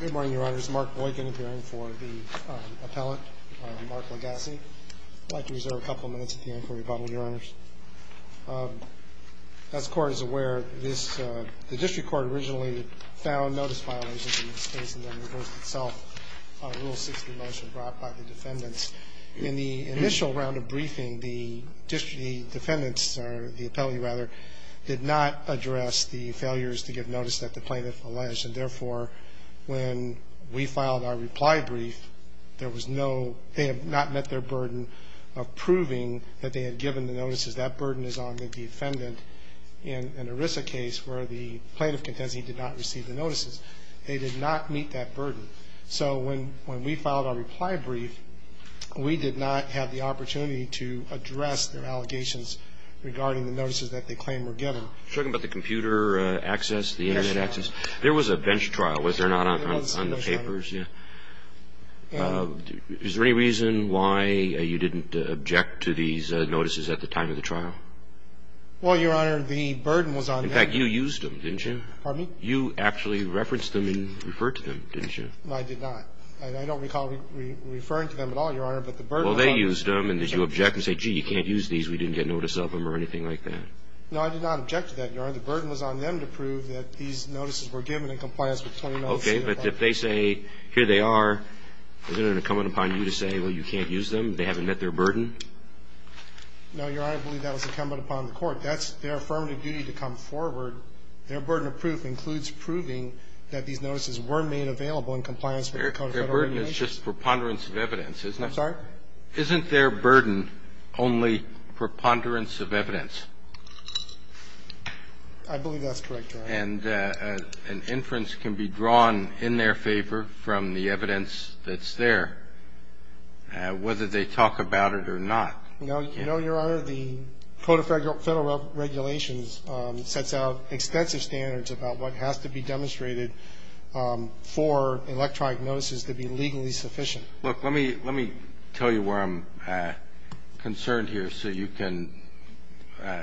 Good morning, Your Honors. Mark Boykin appearing for the appellate, Mark Legassie. I'd like to reserve a couple of minutes at the end for rebuttal, Your Honors. As the Court is aware, the district court originally found notice violations in this case and then reversed itself on Rule 60 motion brought by the defendants. In the initial round of briefing, the district defendants, or the appellate rather, did not address the failures to give notice that the plaintiff alleged. And therefore, when we filed our reply brief, there was no, they had not met their burden of proving that they had given the notices. That burden is on the defendant in an ERISA case where the plaintiff did not receive the notices. They did not meet that burden. So when we filed our reply brief, we did not have the opportunity to address their allegations regarding the notices that they claimed were given. I'm talking about the computer access, the internet access. Yes, Your Honor. There was a bench trial, was there not, on the papers? Yes, Your Honor. Is there any reason why you didn't object to these notices at the time of the trial? Well, Your Honor, the burden was on them. In fact, you used them, didn't you? Pardon me? You actually referenced them and referred to them, didn't you? I did not. I don't recall referring to them at all, Your Honor, but the burden was on them. Well, they used them, and did you object and say, gee, you can't use these, we didn't get notice of them or anything like that? No, I did not object to that, Your Honor. The burden was on them to prove that these notices were given in compliance with the 20-mile CFA Act. Okay. But if they say, here they are, isn't it incumbent upon you to say, well, you can't use them, they haven't met their burden? No, Your Honor, I believe that was incumbent upon the Court. That's their affirmative duty to come forward. Their burden of proof includes proving that these notices were made available in compliance with the Code of Federal Regulations. Their burden is just preponderance of evidence, isn't it? I'm sorry? Isn't their burden only preponderance of evidence? I believe that's correct, Your Honor. And an inference can be drawn in their favor from the evidence that's there, whether they talk about it or not. You know, Your Honor, the Code of Federal Regulations sets out extensive standards about what has to be demonstrated for electronic notices to be legally sufficient. Look, let me tell you where I'm concerned here so you can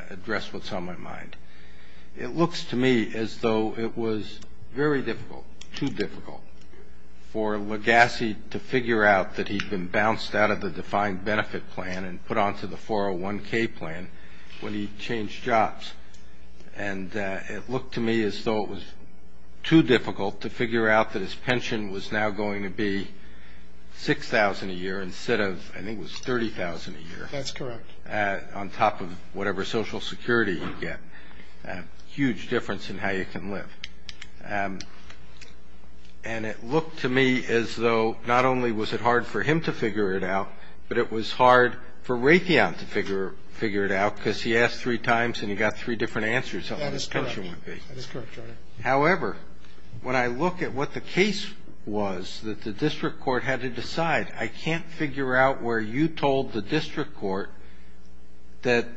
address what's on my mind. It looks to me as though it was very difficult, too difficult, for Legassi to figure out that he'd been bounced out of the defined benefit plan and put onto the 401K plan when he changed jobs. And it looked to me as though it was too difficult to figure out that his pension was now going to be $6,000 a year instead of, I think it was $30,000 a year. That's correct. On top of whatever Social Security you get. Huge difference in how you can live. And it looked to me as though not only was it hard for him to figure it out, but it was hard for Raytheon to figure it out because he asked three times and he got three different answers on what his pension would be. That's correct. However, when I look at what the case was that the district court had to decide, I can't figure out where you told the district court that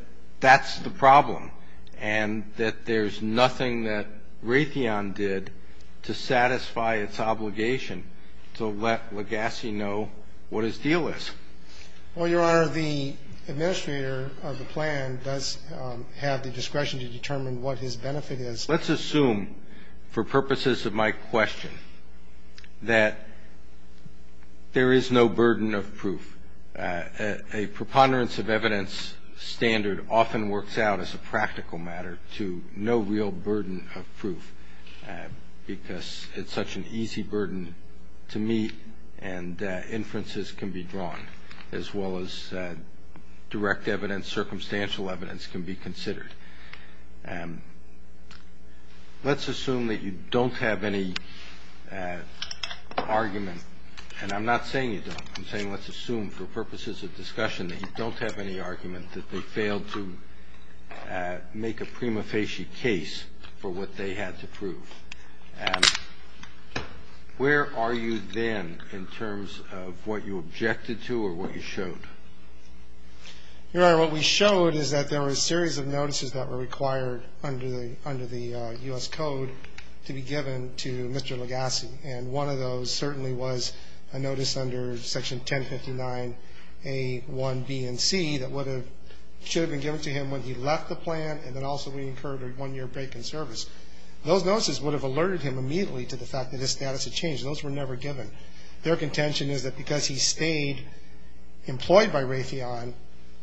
that's the problem and that there's nothing that Raytheon did to satisfy its obligation to let Legassi know what his deal is. Well, Your Honor, the administrator of the plan does have the discretion to determine what his benefit is. Let's assume for purposes of my question that there is no burden of proof. A preponderance of evidence standard often works out as a practical matter to no real burden of proof because it's such an easy burden to meet and inferences can be drawn as well as direct evidence, circumstantial evidence can be considered. Let's assume that you don't have any argument, and I'm not saying you don't. I'm saying let's assume for purposes of discussion that you don't have any argument, that they failed to make a prima facie case for what they had to prove. And where are you then in terms of what you objected to or what you showed? Your Honor, what we showed is that there were a series of notices that were required under the U.S. Code to be given to Mr. Legassi, and one of those certainly was a notice under Section 1059A1B and C that should have been given to him when he left the plan and then also when he incurred a one-year break in service. Those notices would have alerted him immediately to the fact that his status had changed. Those were never given. Their contention is that because he stayed employed by Raytheon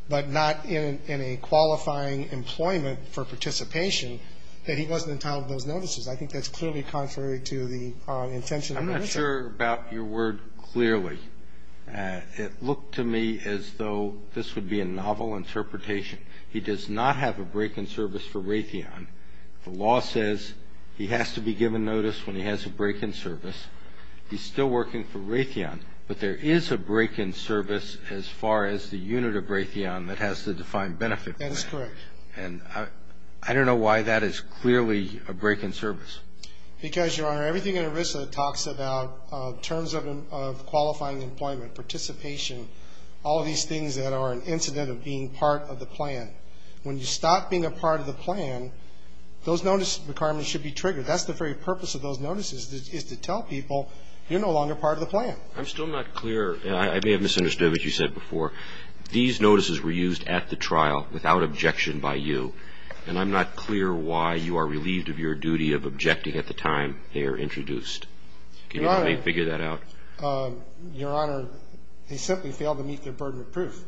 but not in a qualifying employment for participation, that he wasn't entitled to those notices. I think that's clearly contrary to the intention of the notice. I'm not sure about your word clearly. It looked to me as though this would be a novel interpretation. He does not have a break in service for Raytheon. The law says he has to be given notice when he has a break in service. He's still working for Raytheon, but there is a break in service as far as the unit of Raytheon that has the defined benefit. That is correct. And I don't know why that is clearly a break in service. Because, Your Honor, everything in ERISA talks about terms of qualifying employment, participation, all of these things that are an incident of being part of the plan. When you stop being a part of the plan, those notice requirements should be triggered. That's the very purpose of those notices is to tell people you're no longer part of the plan. I'm still not clear. I may have misunderstood what you said before. These notices were used at the trial without objection by you, and I'm not clear why you are relieved of your duty of objecting at the time they are introduced. Can you help me figure that out? Your Honor, they simply failed to meet their burden of proof.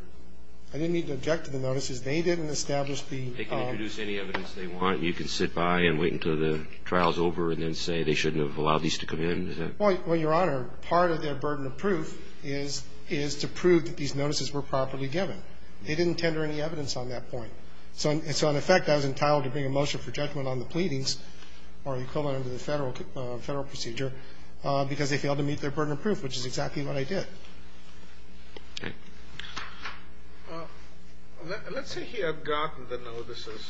I didn't need to object to the notices. They didn't establish the ---- They can introduce any evidence they want. You can sit by and wait until the trial is over and then say they shouldn't have allowed these to come in. Well, Your Honor, part of their burden of proof is to prove that these notices were properly given. They didn't tender any evidence on that point. So in effect, I was entitled to bring a motion for judgment on the pleadings or equivalent to the Federal procedure because they failed to meet their burden of proof, which is exactly what I did. Let's say he had gotten the notices.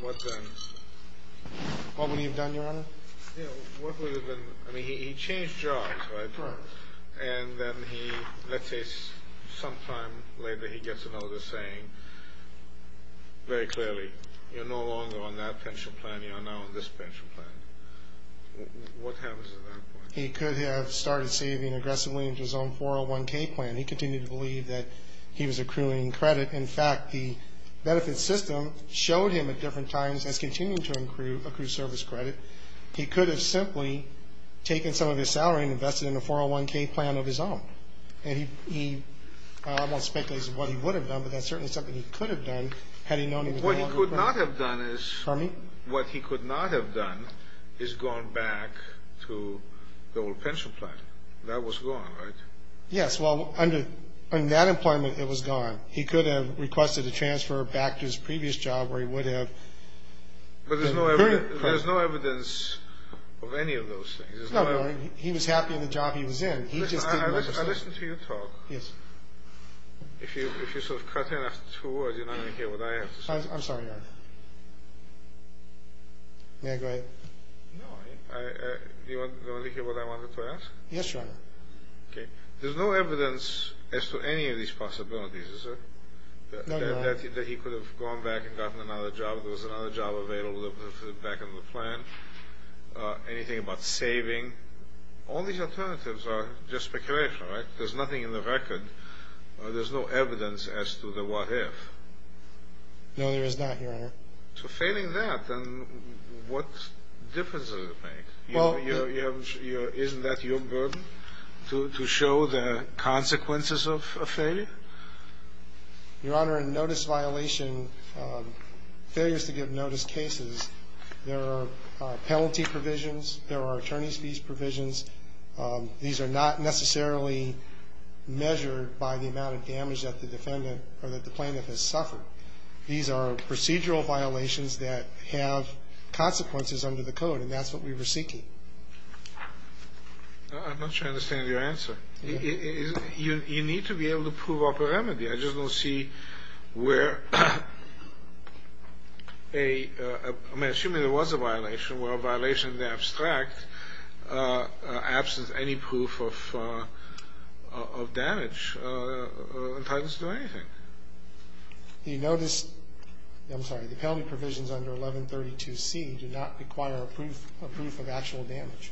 What then? What would he have done, Your Honor? I mean, he changed jobs, right? Right. And then he, let's say sometime later, he gets a notice saying very clearly, you're no longer on that pension plan. You are now on this pension plan. What happens at that point? He could have started saving aggressively into his own 401K plan. He continued to believe that he was accruing credit. In fact, the benefit system showed him at different times as continuing to accrue service credit. He could have simply taken some of his salary and invested in a 401K plan of his own. And he, I won't speculate as to what he would have done, but that's certainly something he could have done had he known he was no longer on it. Pardon me? The old pension plan. That was gone, right? Yes. Well, under that employment, it was gone. He could have requested a transfer back to his previous job where he would have. But there's no evidence of any of those things. No, no. He was happy in the job he was in. He just didn't want to stay. I listened to you talk. Yes. If you sort of cut in after two words, you're not going to hear what I have to say. I'm sorry, Your Honor. May I go ahead? No. Do you want to hear what I wanted to ask? Yes, Your Honor. Okay. There's no evidence as to any of these possibilities, is there? No, Your Honor. That he could have gone back and gotten another job. There was another job available back in the plan. Anything about saving. All these alternatives are just speculation, right? There's nothing in the record. There's no evidence as to the what if. No, there is not, Your Honor. So failing that, then what difference does it make? Isn't that your burden to show the consequences of a failure? Your Honor, in notice violation, failures to give notice cases, there are penalty provisions. There are attorney's fees provisions. These are not necessarily measured by the amount of damage that the defendant or that the plaintiff has suffered. These are procedural violations that have consequences under the code, and that's what we were seeking. I'm not sure I understand your answer. You need to be able to prove upper remedy. I just don't see where a ‑‑ I mean, assuming there was a violation, where a violation is abstract, absence of any proof of damage entitles you to do anything. You notice, I'm sorry, the penalty provisions under 1132C do not require a proof of actual damage.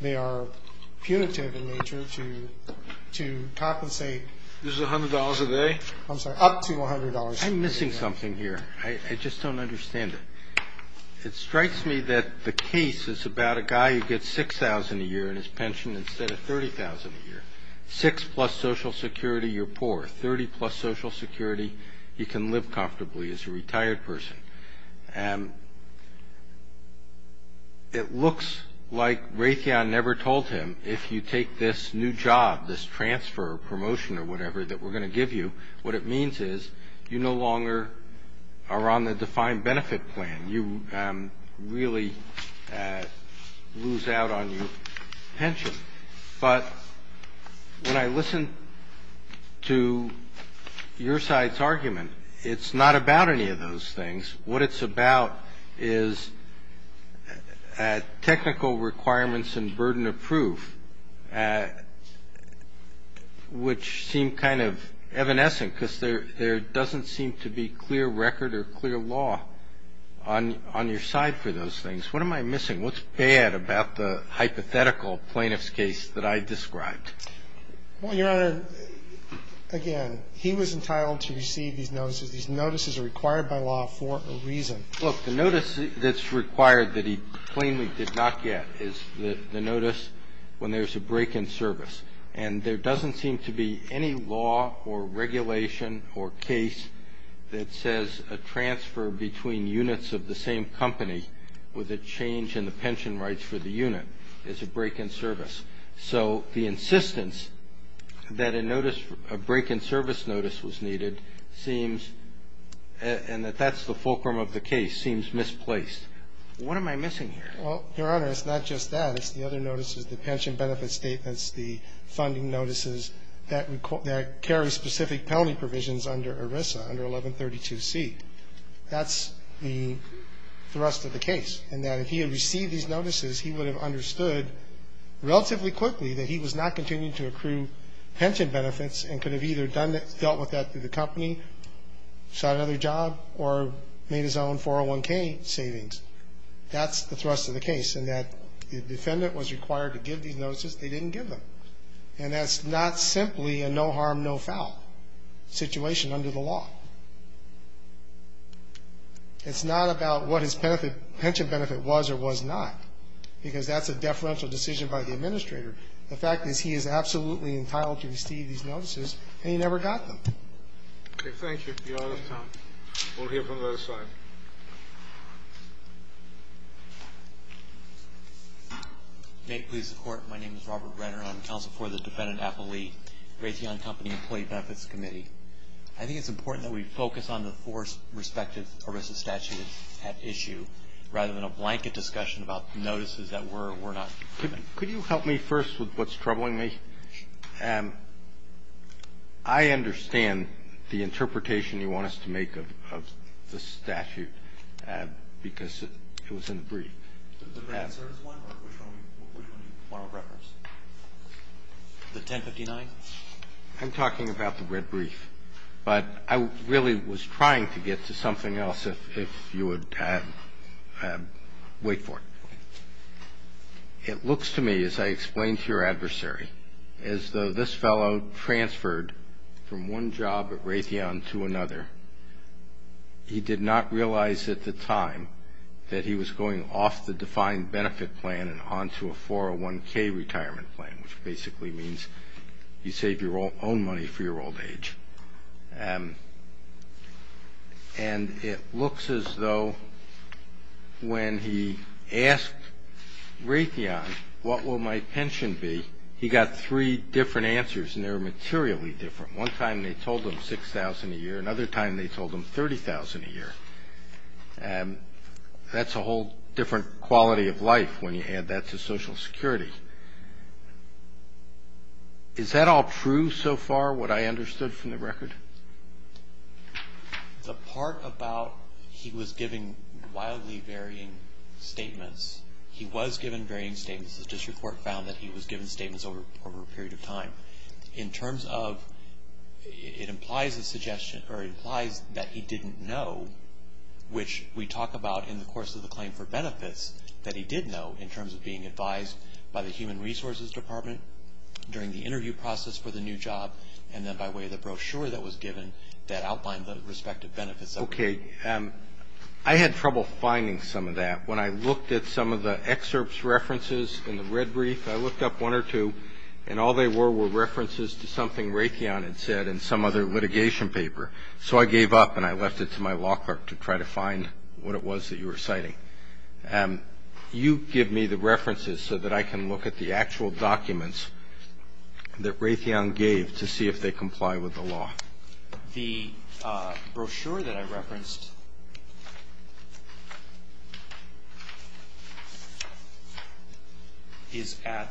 They are punitive in nature to compensate. This is $100 a day? I'm sorry, up to $100 a day. I'm missing something here. I just don't understand it. It strikes me that the case is about a guy who gets $6,000 a year in his pension instead of $30,000 a year. Six plus Social Security, you're poor. Thirty plus Social Security, he can live comfortably as a retired person. It looks like Raytheon never told him, if you take this new job, this transfer or promotion or whatever that we're going to give you, what it means is you no longer are on the defined benefit plan. You really lose out on your pension. But when I listen to your side's argument, it's not about any of those things. What it's about is technical requirements and burden of proof, which seem kind of evanescent because there doesn't seem to be clear record or clear law on your side for those things. What am I missing? What's bad about the hypothetical plaintiff's case that I described? Well, Your Honor, again, he was entitled to receive these notices. These notices are required by law for a reason. Look, the notice that's required that he plainly did not get is the notice when there's a break in service. And there doesn't seem to be any law or regulation or case that says a transfer between units of the same company with a change in the pension rights for the unit is a break in service. So the insistence that a notice, a break in service notice was needed seems, and that that's the fulcrum of the case, seems misplaced. What am I missing here? Well, Your Honor, it's not just that. It's the other notices, the pension benefit statements, the funding notices that carry specific penalty provisions under ERISA, under 1132C. That's the thrust of the case, in that if he had received these notices, he would have understood relatively quickly that he was not continuing to accrue pension benefits and could have either dealt with that through the company, sought another job, or made his own 401K savings. That's the thrust of the case, in that the defendant was required to give these notices. They didn't give them. And that's not simply a no harm, no foul situation under the law. It's not about what his pension benefit was or was not, because that's a deferential decision by the administrator. The fact is he is absolutely entitled to receive these notices, and he never got them. Okay. Thank you, Your Honor. May it please the Court. My name is Robert Renner. I'm counsel for the Defendant Appellee, Raytheon Company Employee Benefits Committee. I think it's important that we focus on the four respective ERISA statutes at issue rather than a blanket discussion about notices that were or were not. Could you help me first with what's troubling me? I understand the interpretation you want us to make of the statute, because it was in the brief. The answer is one, or which one do you want to reference? The 1059? I'm talking about the red brief. But I really was trying to get to something else, if you would wait for it. Okay. It looks to me, as I explained to your adversary, as though this fellow transferred from one job at Raytheon to another. He did not realize at the time that he was going off the defined benefit plan and onto a 401K retirement plan, which basically means you save your own money for your old age. And it looks as though when he asked Raytheon what will my pension be, he got three different answers, and they were materially different. One time they told him $6,000 a year. Another time they told him $30,000 a year. That's a whole different quality of life when you add that to Social Security. Is that all true so far, what I understood from the record? The part about he was giving wildly varying statements, he was given varying statements. The district court found that he was given statements over a period of time. In terms of it implies that he didn't know, which we talk about in the course of the claim for benefits, that he did know in terms of being advised by the Human Resources Department during the interview process for the new job, and then by way of the brochure that was given that outlined the respective benefits. Okay. I had trouble finding some of that. When I looked at some of the excerpts, references in the red brief, I looked up one or two, and all they were were references to something Raytheon had said in some other litigation paper. So I gave up and I left it to my law clerk to try to find what it was that you were citing. You give me the references so that I can look at the actual documents that Raytheon gave to see if they comply with the law. The brochure that I referenced is at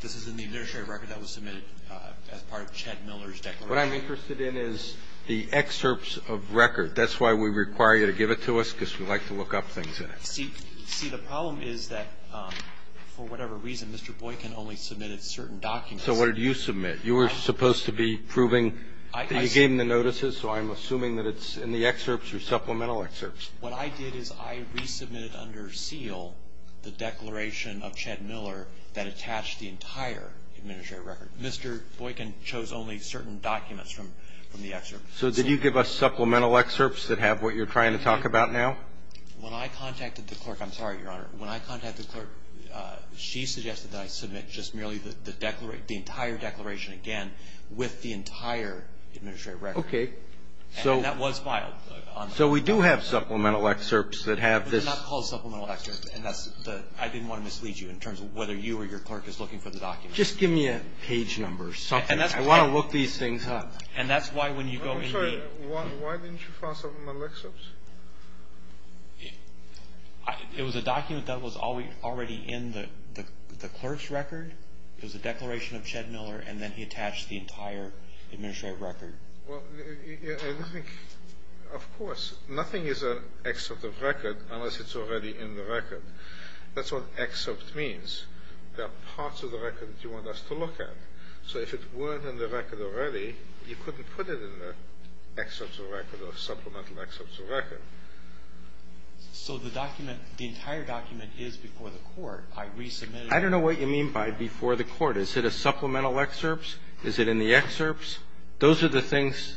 this is in the initial record that was submitted as part of Chad Miller's declaration. What I'm interested in is the excerpts of record. That's why we require you to give it to us, because we like to look up things in it. See, the problem is that for whatever reason, Mr. Boykin only submitted certain documents. So what did you submit? You were supposed to be proving that you gave him the notices, so I'm assuming that it's in the excerpts or supplemental excerpts. What I did is I resubmitted under seal the declaration of Chad Miller that attached the entire administrative record. Mr. Boykin chose only certain documents from the excerpts. So did you give us supplemental excerpts that have what you're trying to talk about now? When I contacted the clerk, I'm sorry, Your Honor. When I contacted the clerk, she suggested that I submit just merely the entire declaration again with the entire administrative record. Okay. And that was filed. So we do have supplemental excerpts that have this. It's not called supplemental excerpts, and I didn't want to mislead you in terms of whether you or your clerk is looking for the documents. Just give me a page number or something. I want to look these things up. And that's why when you go in here. I'm sorry. Why didn't you file supplemental excerpts? It was a document that was already in the clerk's record. It was a declaration of Chad Miller, and then he attached the entire administrative record. Well, I think, of course, nothing is an excerpt of record unless it's already in the record. That's what excerpt means. There are parts of the record that you want us to look at. So if it weren't in the record already, you couldn't put it in the excerpt of record So the document, the entire document is before the court. I resubmitted it. I don't know what you mean by before the court. Is it a supplemental excerpt? Is it in the excerpt? Those are the things.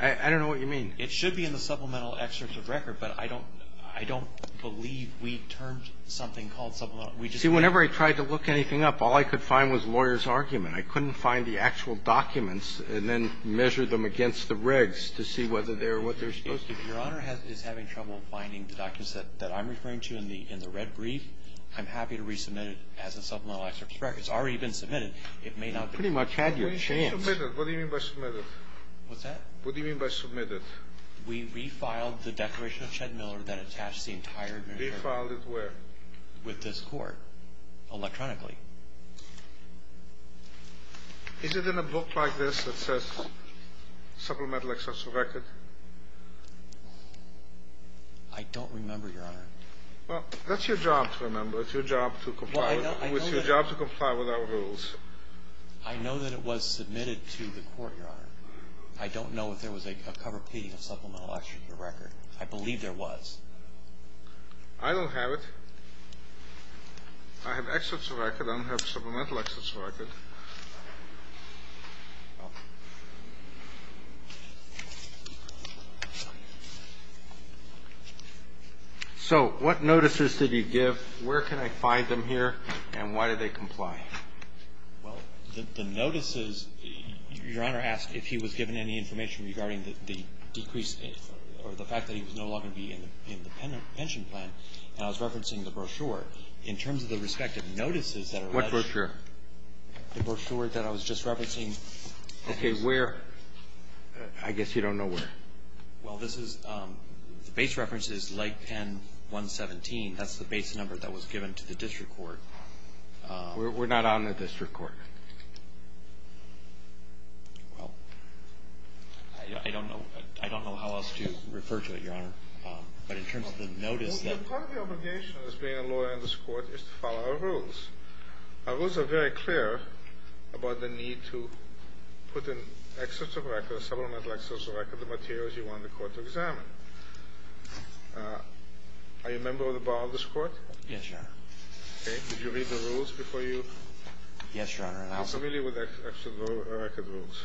I don't know what you mean. It should be in the supplemental excerpt of record, but I don't believe we termed something called supplemental. See, whenever I tried to look anything up, all I could find was lawyer's argument. I couldn't find the actual documents and then measure them against the regs to see whether they're what they're supposed to be. If Your Honor is having trouble finding the documents that I'm referring to in the red brief, I'm happy to resubmit it as a supplemental excerpt of record. It's already been submitted. It may not be. You pretty much had your chance. What do you mean by submitted? What's that? What do you mean by submitted? We refiled the declaration of Chad Miller that attached the entire administrative record. Refiled it where? With this court, electronically. Is it in a book like this that says supplemental excerpts of record? I don't remember, Your Honor. Well, that's your job to remember. It's your job to comply with our rules. I know that it was submitted to the court, Your Honor. I don't know if there was a cover p of supplemental excerpt of record. I believe there was. I don't have it. I have excerpts of record. I don't have supplemental excerpts of record. So what notices did you give, where can I find them here, and why do they comply? Well, the notices, Your Honor asked if he was given any information regarding the decrease or the fact that he was no longer going to be in the pension plan. And I was referencing the brochure. In terms of the respective notices that are read. What brochure? The brochure that I was just referencing. Okay. Where? I guess you don't know where. Well, this is the base reference is Lake Penn 117. That's the base number that was given to the district court. We're not on the district court. Well, I don't know how else to refer to it, Your Honor. But in terms of the notice that. Part of the obligation as being a lawyer in this court is to follow our rules. Our rules are very clear about the need to put in excerpts of record, supplemental excerpts of record, the materials you want the court to examine. Are you a member of the bar of this court? Yes, Your Honor. Okay. Did you read the rules before you? Yes, Your Honor. Are you familiar with the excerpts of record rules?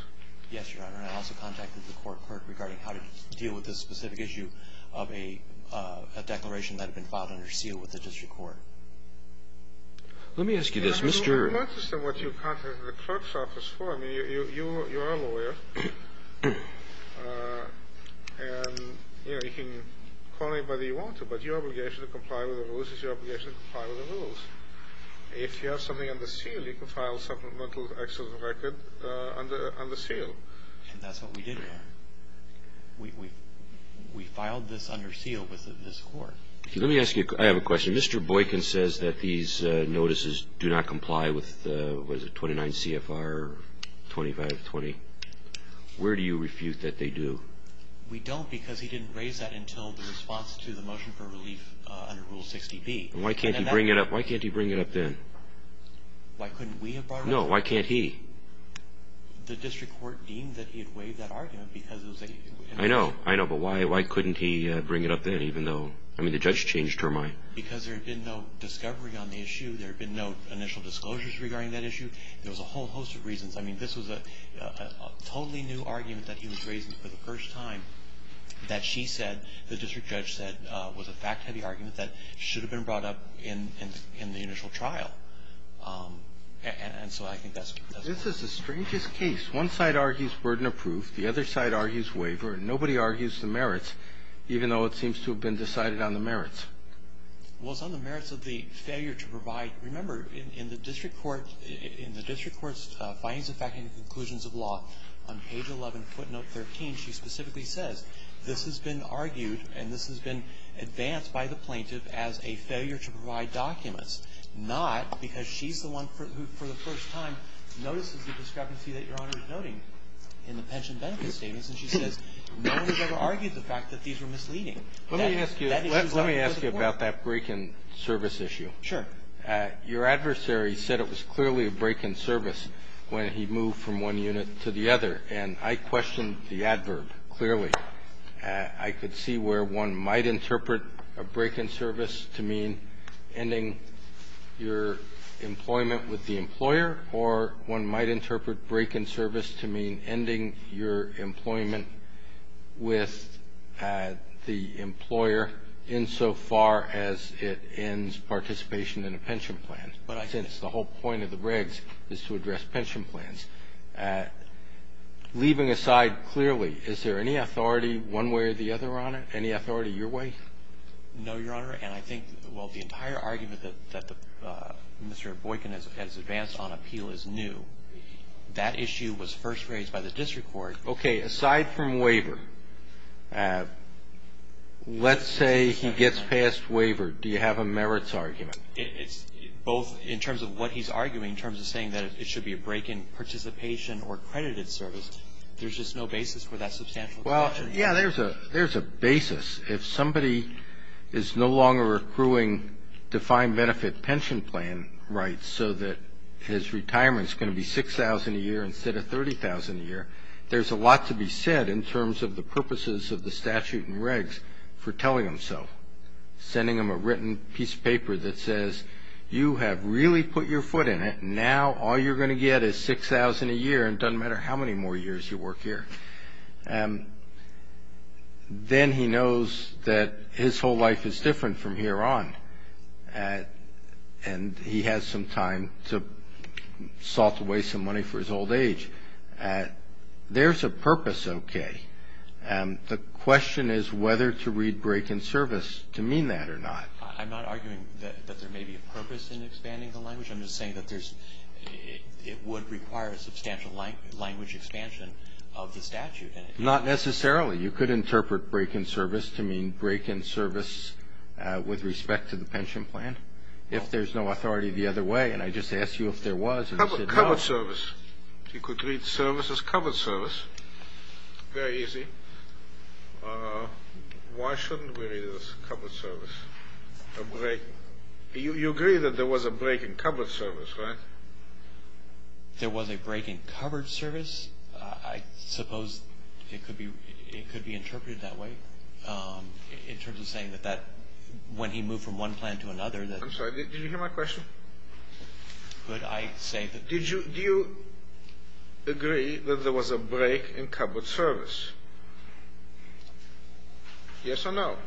Yes, Your Honor. I also contacted the court regarding how to deal with this specific issue of a declaration that had been filed under seal with the district court. Let me ask you this. I'm not interested in what you contacted the clerk's office for. I mean, you are a lawyer, and, you know, you can call anybody you want to, but your obligation to comply with the rules is your obligation to comply with the rules. If you have something under seal, you can file supplemental excerpts of record under seal. And that's what we did, Your Honor. We filed this under seal with this court. Let me ask you. I have a question. Mr. Boykin says that these notices do not comply with, what is it, 29 CFR 2520. Where do you refute that they do? We don't because he didn't raise that until the response to the motion for relief under Rule 60B. Why can't he bring it up? Why can't he bring it up then? Why couldn't we have brought it up? No. Why can't he? The district court deemed that he had waived that argument because it was a I know. I know. But why couldn't he bring it up then even though, I mean, the judge changed her mind. Because there had been no discovery on the issue. There had been no initial disclosures regarding that issue. There was a whole host of reasons. I mean, this was a totally new argument that he was raising for the first time that she said, was a fact-heavy argument that should have been brought up in the initial trial. And so I think that's why. This is the strangest case. One side argues burden of proof. The other side argues waiver. Nobody argues the merits, even though it seems to have been decided on the merits. Well, it's on the merits of the failure to provide. Remember, in the district court's findings of fact and conclusions of law, on page 11, footnote 13, she specifically says, this has been argued and this has been advanced by the plaintiff as a failure to provide documents. Not because she's the one who, for the first time, notices the discrepancy that Your Honor is noting in the pension benefit statements. And she says, no one has ever argued the fact that these were misleading. Let me ask you about that break-in service issue. Sure. Your adversary said it was clearly a break-in service when he moved from one unit to the other. And I questioned the adverb clearly. I could see where one might interpret a break-in service to mean ending your employment with the employer, or one might interpret break-in service to mean ending your employment with the employer insofar as it ends participation in a pension plan. But I think it's the whole point of the regs is to address pension plans. Leaving aside clearly, is there any authority one way or the other, Your Honor, any authority your way? No, Your Honor. And I think, well, the entire argument that Mr. Boykin has advanced on appeal is new. That issue was first raised by the district court. Okay. Aside from waiver, let's say he gets past waiver. Do you have a merits argument? It's both in terms of what he's arguing in terms of saying that it should be a break-in participation or accredited service. There's just no basis for that substantial question. Well, yeah, there's a basis. If somebody is no longer accruing defined benefit pension plan rights so that his retirement is going to be $6,000 a year instead of $30,000 a year, there's a lot to be said in terms of the purposes of the statute and regs for telling him so, sending him a written piece of paper that says, you have really put your foot in it. Now all you're going to get is $6,000 a year, and it doesn't matter how many more years you work here. Then he knows that his whole life is different from here on, and he has some time to salt away some money for his old age. There's a purpose, okay. The question is whether to read break-in service to mean that or not. I'm not arguing that there may be a purpose in expanding the language. I'm just saying that it would require a substantial language expansion of the statute. Not necessarily. You could interpret break-in service to mean break-in service with respect to the pension plan if there's no authority the other way, and I just asked you if there was, and you said no. Covered service. You could read service as covered service. Very easy. Why shouldn't we read it as covered service? You agree that there was a break-in covered service, right? There was a break-in covered service. I suppose it could be interpreted that way in terms of saying that when he moved from one plan to another that I'm sorry, did you hear my question? Could I say that? Do you agree that there was a break-in covered service? Yes or no?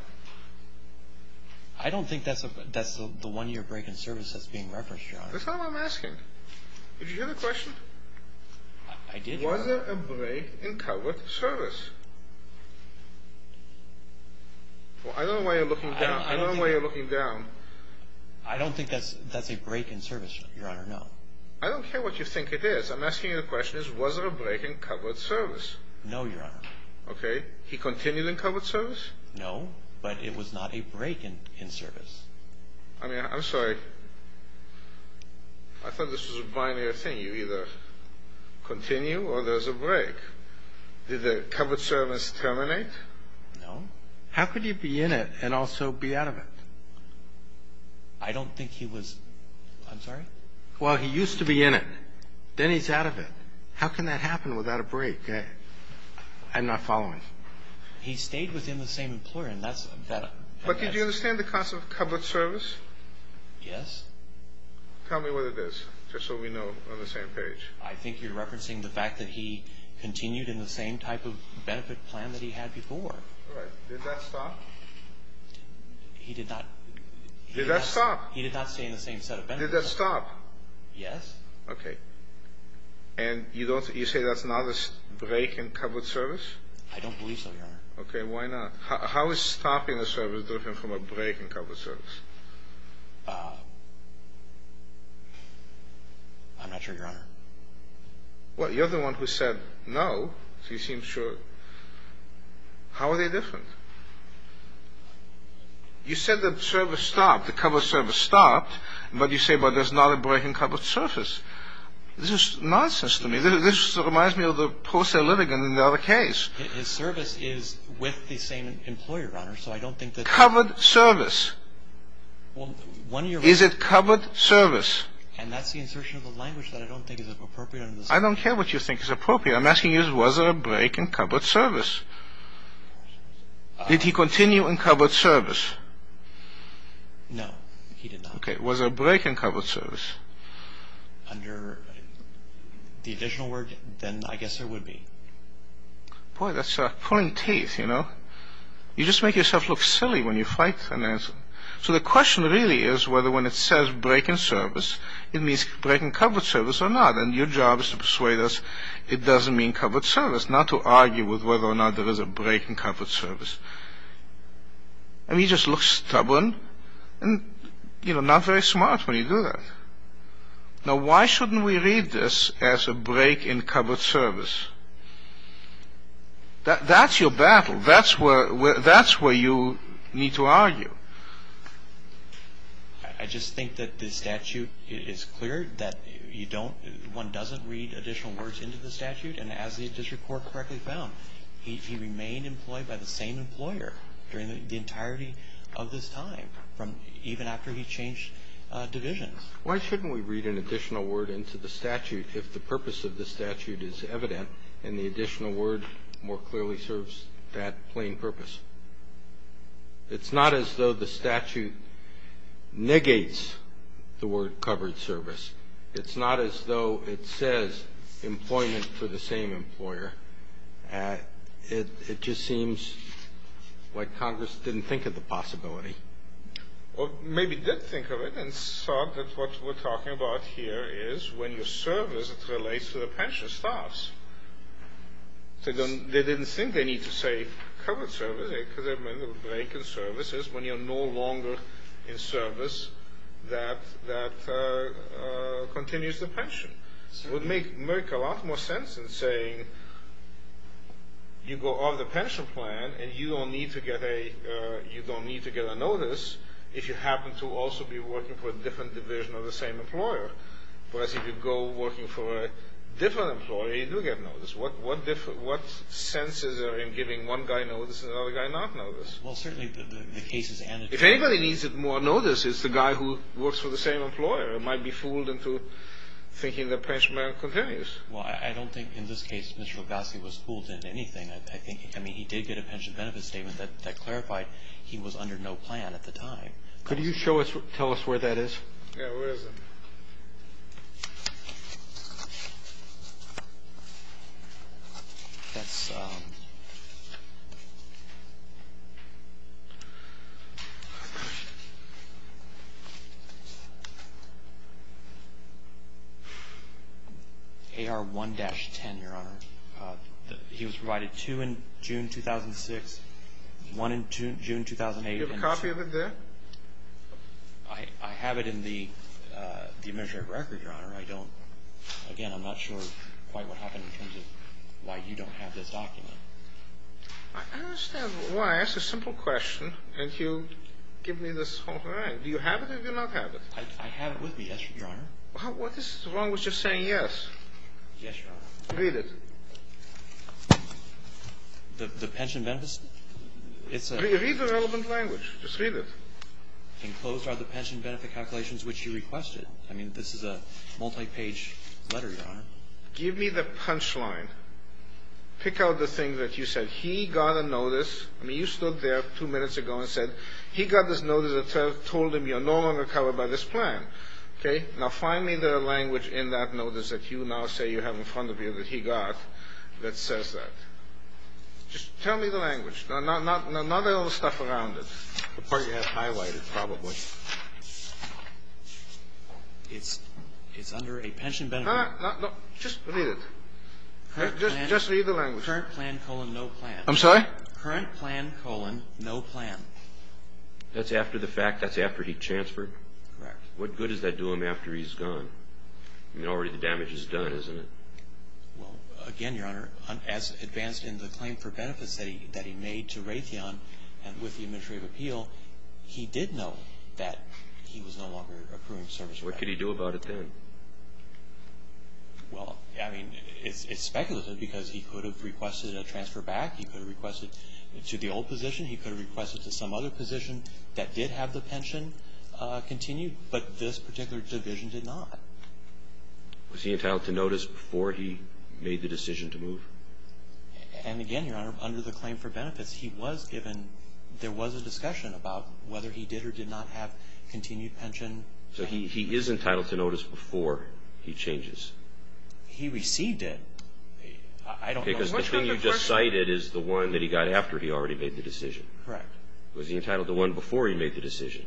I don't think that's the one-year break-in service that's being referenced, Your Honor. That's all I'm asking. Did you hear the question? I did, Your Honor. Was there a break-in covered service? Well, I don't know why you're looking down. I don't think that's a break-in service. Your Honor, no. I don't care what you think it is. I'm asking you the question, was there a break-in covered service? No, Your Honor. Okay. He continued in covered service? No, but it was not a break-in service. I mean, I'm sorry. I thought this was a binary thing. You either continue or there's a break. Did the covered service terminate? No. How could he be in it and also be out of it? I don't think he was. I'm sorry? Well, he used to be in it. Then he's out of it. How can that happen without a break? I'm not following. He stayed within the same employer, and that's a benefit. But did you understand the concept of covered service? Yes. Tell me what it is, just so we know we're on the same page. I think you're referencing the fact that he continued in the same type of benefit plan that he had before. All right. Did that stop? He did not. Did that stop? He did not stay in the same set of benefits. Did that stop? Yes. Okay. And you say that's not a break-in covered service? I don't believe so, Your Honor. Okay, why not? How is stopping a service different from a break-in covered service? I'm not sure, Your Honor. Well, you're the one who said no, so you seem sure. How are they different? You said that the service stopped, the covered service stopped, but you say, well, there's not a break-in covered service. This is nonsense to me. This reminds me of the poster litigant in the other case. His service is with the same employer, Your Honor, so I don't think that... Covered service. Well, one of your... Is it covered service? And that's the insertion of a language that I don't think is appropriate under the statute. I don't care what you think is appropriate. I'm asking you, was there a break-in covered service? Did he continue in covered service? No, he did not. Okay, was there a break-in covered service? Under the additional word, then I guess there would be. Boy, that's pulling teeth, you know? You just make yourself look silly when you fight an answer. So the question really is whether when it says break-in service, it means break-in covered service or not, and your job is to persuade us it doesn't mean covered service, not to argue with whether or not there is a break-in covered service. I mean, you just look stubborn and, you know, not very smart when you do that. Now, why shouldn't we read this as a break-in covered service? That's your battle. That's where you need to argue. I just think that the statute is clear, that one doesn't read additional words into the statute, and as the district court correctly found, he remained employed by the same employer during the entirety of this time, even after he changed divisions. Why shouldn't we read an additional word into the statute if the purpose of the statute is evident and the additional word more clearly serves that plain purpose? It's not as though the statute negates the word covered service. It's not as though it says employment for the same employer. It just seems like Congress didn't think of the possibility. Well, maybe did think of it and saw that what we're talking about here is when you're serviced, it relates to the pension staffs. They didn't think they need to say covered service because there are many break-in services when you're no longer in service that continues the pension. It would make a lot more sense in saying you go on the pension plan and you don't need to get a notice if you happen to also be working for a different division or the same employer, whereas if you go working for a different employee, you do get notice. What sense is there in giving one guy notice and another guy not notice? Well, certainly the cases and the cases. If anybody needs more notice, it's the guy who works for the same employer. It might be fooled into thinking the pension plan continues. Well, I don't think in this case Mr. Lugoski was fooled into anything. I think he did get a pension benefit statement that clarified he was under no plan at the time. Could you show us, tell us where that is? Yeah, where is it? That's AR 1-10, Your Honor. He was provided two in June 2006, one in June 2008. Do you have a copy of it there? I have it in the administrative record, Your Honor. I don't, again, I'm not sure quite what happened in terms of why you don't have this document. I understand why. It's a simple question and you give me this whole thing. Do you have it or do you not have it? I have it with me, yes, Your Honor. What is wrong with just saying yes? Yes, Your Honor. Read it. The pension benefit statement? Read the relevant language. Just read it. Enclosed are the pension benefit calculations which you requested. I mean, this is a multi-page letter, Your Honor. Give me the punchline. Pick out the thing that you said. He got a notice. I mean, you stood there two minutes ago and said he got this notice that told him you're no longer covered by this plan. Okay? Now find me the language in that notice that you now say you have in front of you that he got that says that. Just tell me the language. Not all the stuff around it. The part you have highlighted probably. It's under a pension benefit. Just read it. Just read the language. Current plan, colon, no plan. I'm sorry? Current plan, colon, no plan. That's after the fact? That's after he transferred? Correct. What good does that do him after he's gone? I mean, already the damage is done, isn't it? Well, again, Your Honor, as advanced in the claim for benefits that he made to Raytheon and with the Administrative Appeal, he did know that he was no longer approving services. What could he do about it then? Well, I mean, it's speculative because he could have requested a transfer back. He could have requested it to the old position. He could have requested it to some other position that did have the pension continued, but this particular division did not. Was he entitled to notice before he made the decision to move? And again, Your Honor, under the claim for benefits, he was given ñ there was a discussion about whether he did or did not have continued pension. So he is entitled to notice before he changes? He received it. I don't know. Because the thing you just cited is the one that he got after he already made the decision. Correct. Was he entitled to one before he made the decision?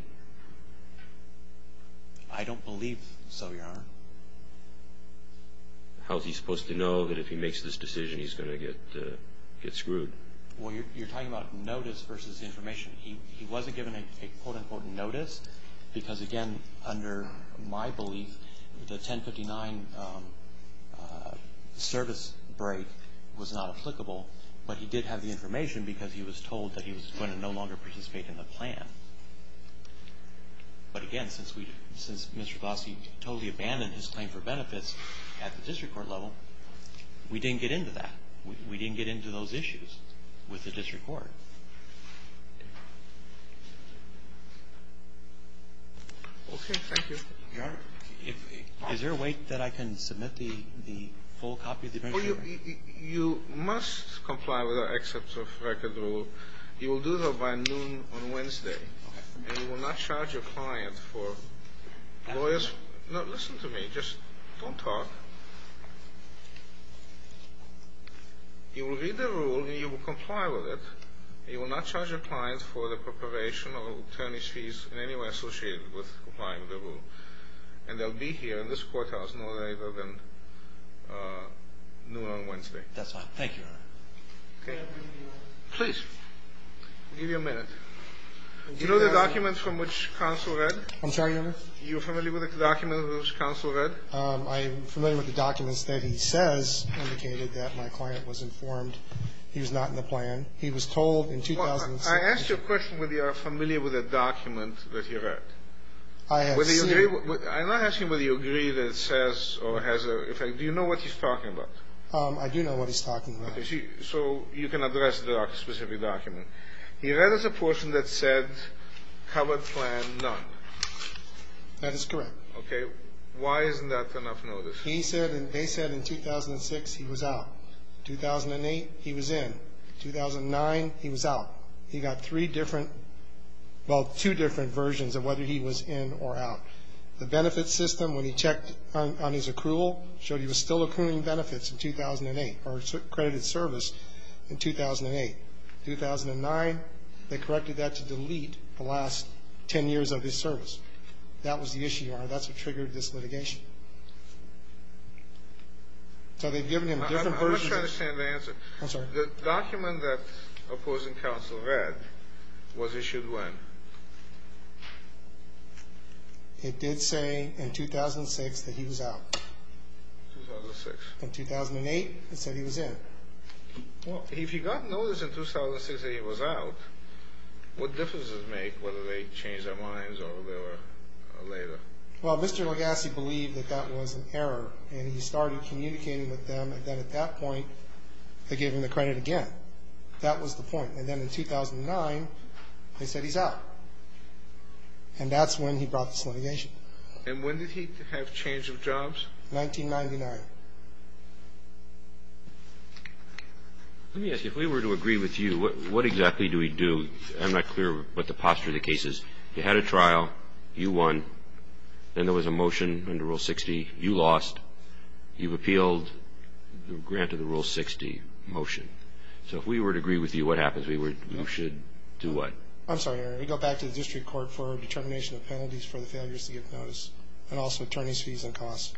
I don't believe so, Your Honor. How is he supposed to know that if he makes this decision he's going to get screwed? Well, you're talking about notice versus information. He wasn't given a ìnoticeî because, again, under my belief, the 1059 service break was not applicable, but he did have the information because he was told that he was going to no longer participate in the plan. But again, since Mr. Glossy totally abandoned his claim for benefits at the district court level, we didn't get into that. We didn't get into those issues with the district court. Okay. Thank you. Your Honor, is there a way that I can submit the full copy of the amendment? You must comply with our excerpts of record rule. You will do so by noon on Wednesday. Okay. And you will not charge your client for lawyers' fees. No, listen to me. Just don't talk. You will read the rule and you will comply with it. You will not charge your client for the preparation of attorney's fees in any way associated with complying with the rule. And they'll be here in this courthouse no later than noon on Wednesday. That's fine. Thank you, Your Honor. Okay. Please. I'll give you a minute. Do you know the documents from which counsel read? I'm sorry, Your Honor? Are you familiar with the documents from which counsel read? I'm familiar with the documents that he says indicated that my client was informed he was not in the plan. He was told in 2006... I asked you a question whether you are familiar with the document that he read. I have seen... I'm not asking whether you agree that it says or has a... Do you know what he's talking about? I do know what he's talking about. So you can address the specific document. He read us a portion that said covered plan none. That is correct. Okay. Why isn't that enough notice? He said and they said in 2006 he was out. 2008, he was in. 2009, he was out. He got three different, well, two different versions of whether he was in or out. The benefits system, when he checked on his accrual, showed he was still accruing benefits in 2008 or accredited service in 2008. 2009, they corrected that to delete the last ten years of his service. That was the issue, Your Honor. That's what triggered this litigation. So they've given him different versions... I'm not sure I understand the answer. I'm sorry. The document that opposing counsel read was issued when? It did say in 2006 that he was out. 2006. In 2008, it said he was in. Well, if he got notice in 2006 that he was out, what difference does it make whether they changed their minds or they were later? Well, Mr. Legassi believed that that was an error and he started communicating with them and then at that point, they gave him the credit again. That was the point. And then in 2009, they said he's out. And that's when he brought this litigation. And when did he have change of jobs? 1999. Let me ask you, if we were to agree with you, what exactly do we do? I'm not clear what the posture of the case is. You had a trial. You won. Then there was a motion under Rule 60. You lost. You've appealed the grant of the Rule 60 motion. So if we were to agree with you, what happens? We should do what? I'm sorry, Your Honor. We go back to the district court for determination of penalties for the failures to get notice and also attorney's fees and costs.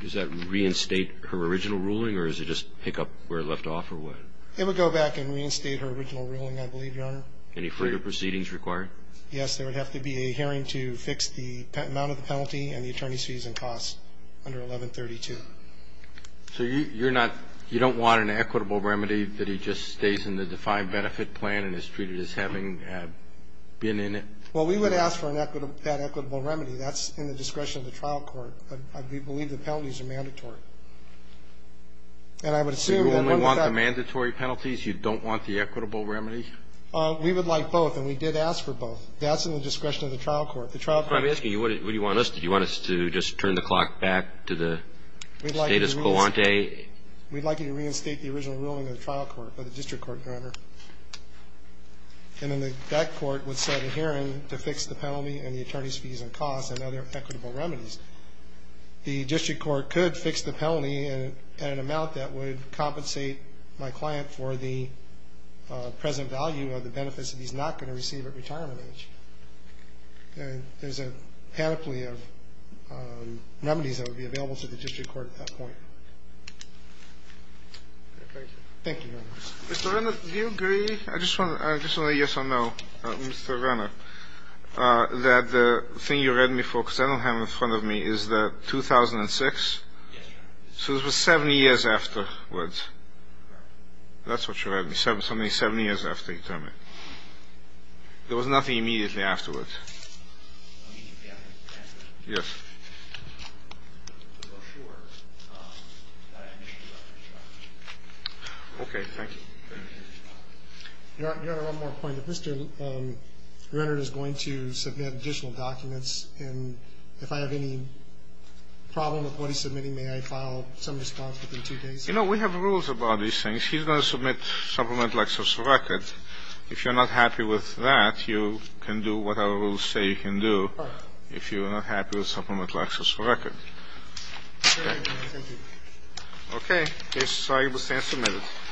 Does that reinstate her original ruling or does it just pick up where it left off or what? It would go back and reinstate her original ruling, I believe, Your Honor. Any further proceedings required? Yes, there would have to be a hearing to fix the amount of the penalty and the attorney's fees and costs under 1132. So you're not you don't want an equitable remedy that he just stays in the defined benefit plan and is treated as having been in it? Well, we would ask for that equitable remedy. That's in the discretion of the trial court. We believe the penalties are mandatory. And I would assume that under that. So you only want the mandatory penalties? You don't want the equitable remedy? We would like both, and we did ask for both. That's in the discretion of the trial court. The trial court. I'm asking you, what do you want us to do? Do you want us to just turn the clock back to the status quo? We'd like you to reinstate the original ruling of the trial court, of the district court, Your Honor. And then that court would set a hearing to fix the penalty and the attorney's fees and costs and other equitable remedies. The district court could fix the penalty at an amount that would compensate my client for the present value of the benefits that he's not going to receive at retirement age. And there's a panoply of remedies that would be available to the district court at that point. Thank you. Thank you, Your Honor. Mr. Renner, do you agree? I just want a yes or no. Mr. Renner, that the thing you read me for, because I don't have it in front of me, is that 2006? Yes, Your Honor. So this was 70 years afterwards. Right. That's what you read me, something 70 years after your term. There was nothing immediately afterwards. Yes. Okay, thank you. Your Honor, one more point. If Mr. Renner is going to submit additional documents, and if I have any problem with what he's submitting, may I file some response within two days? You know, we have rules about these things. If he's going to submit supplemental access for records, if you're not happy with that, you can do whatever rules say you can do if you're not happy with supplemental access for records. Okay, thank you. Okay, case is signed and submitted.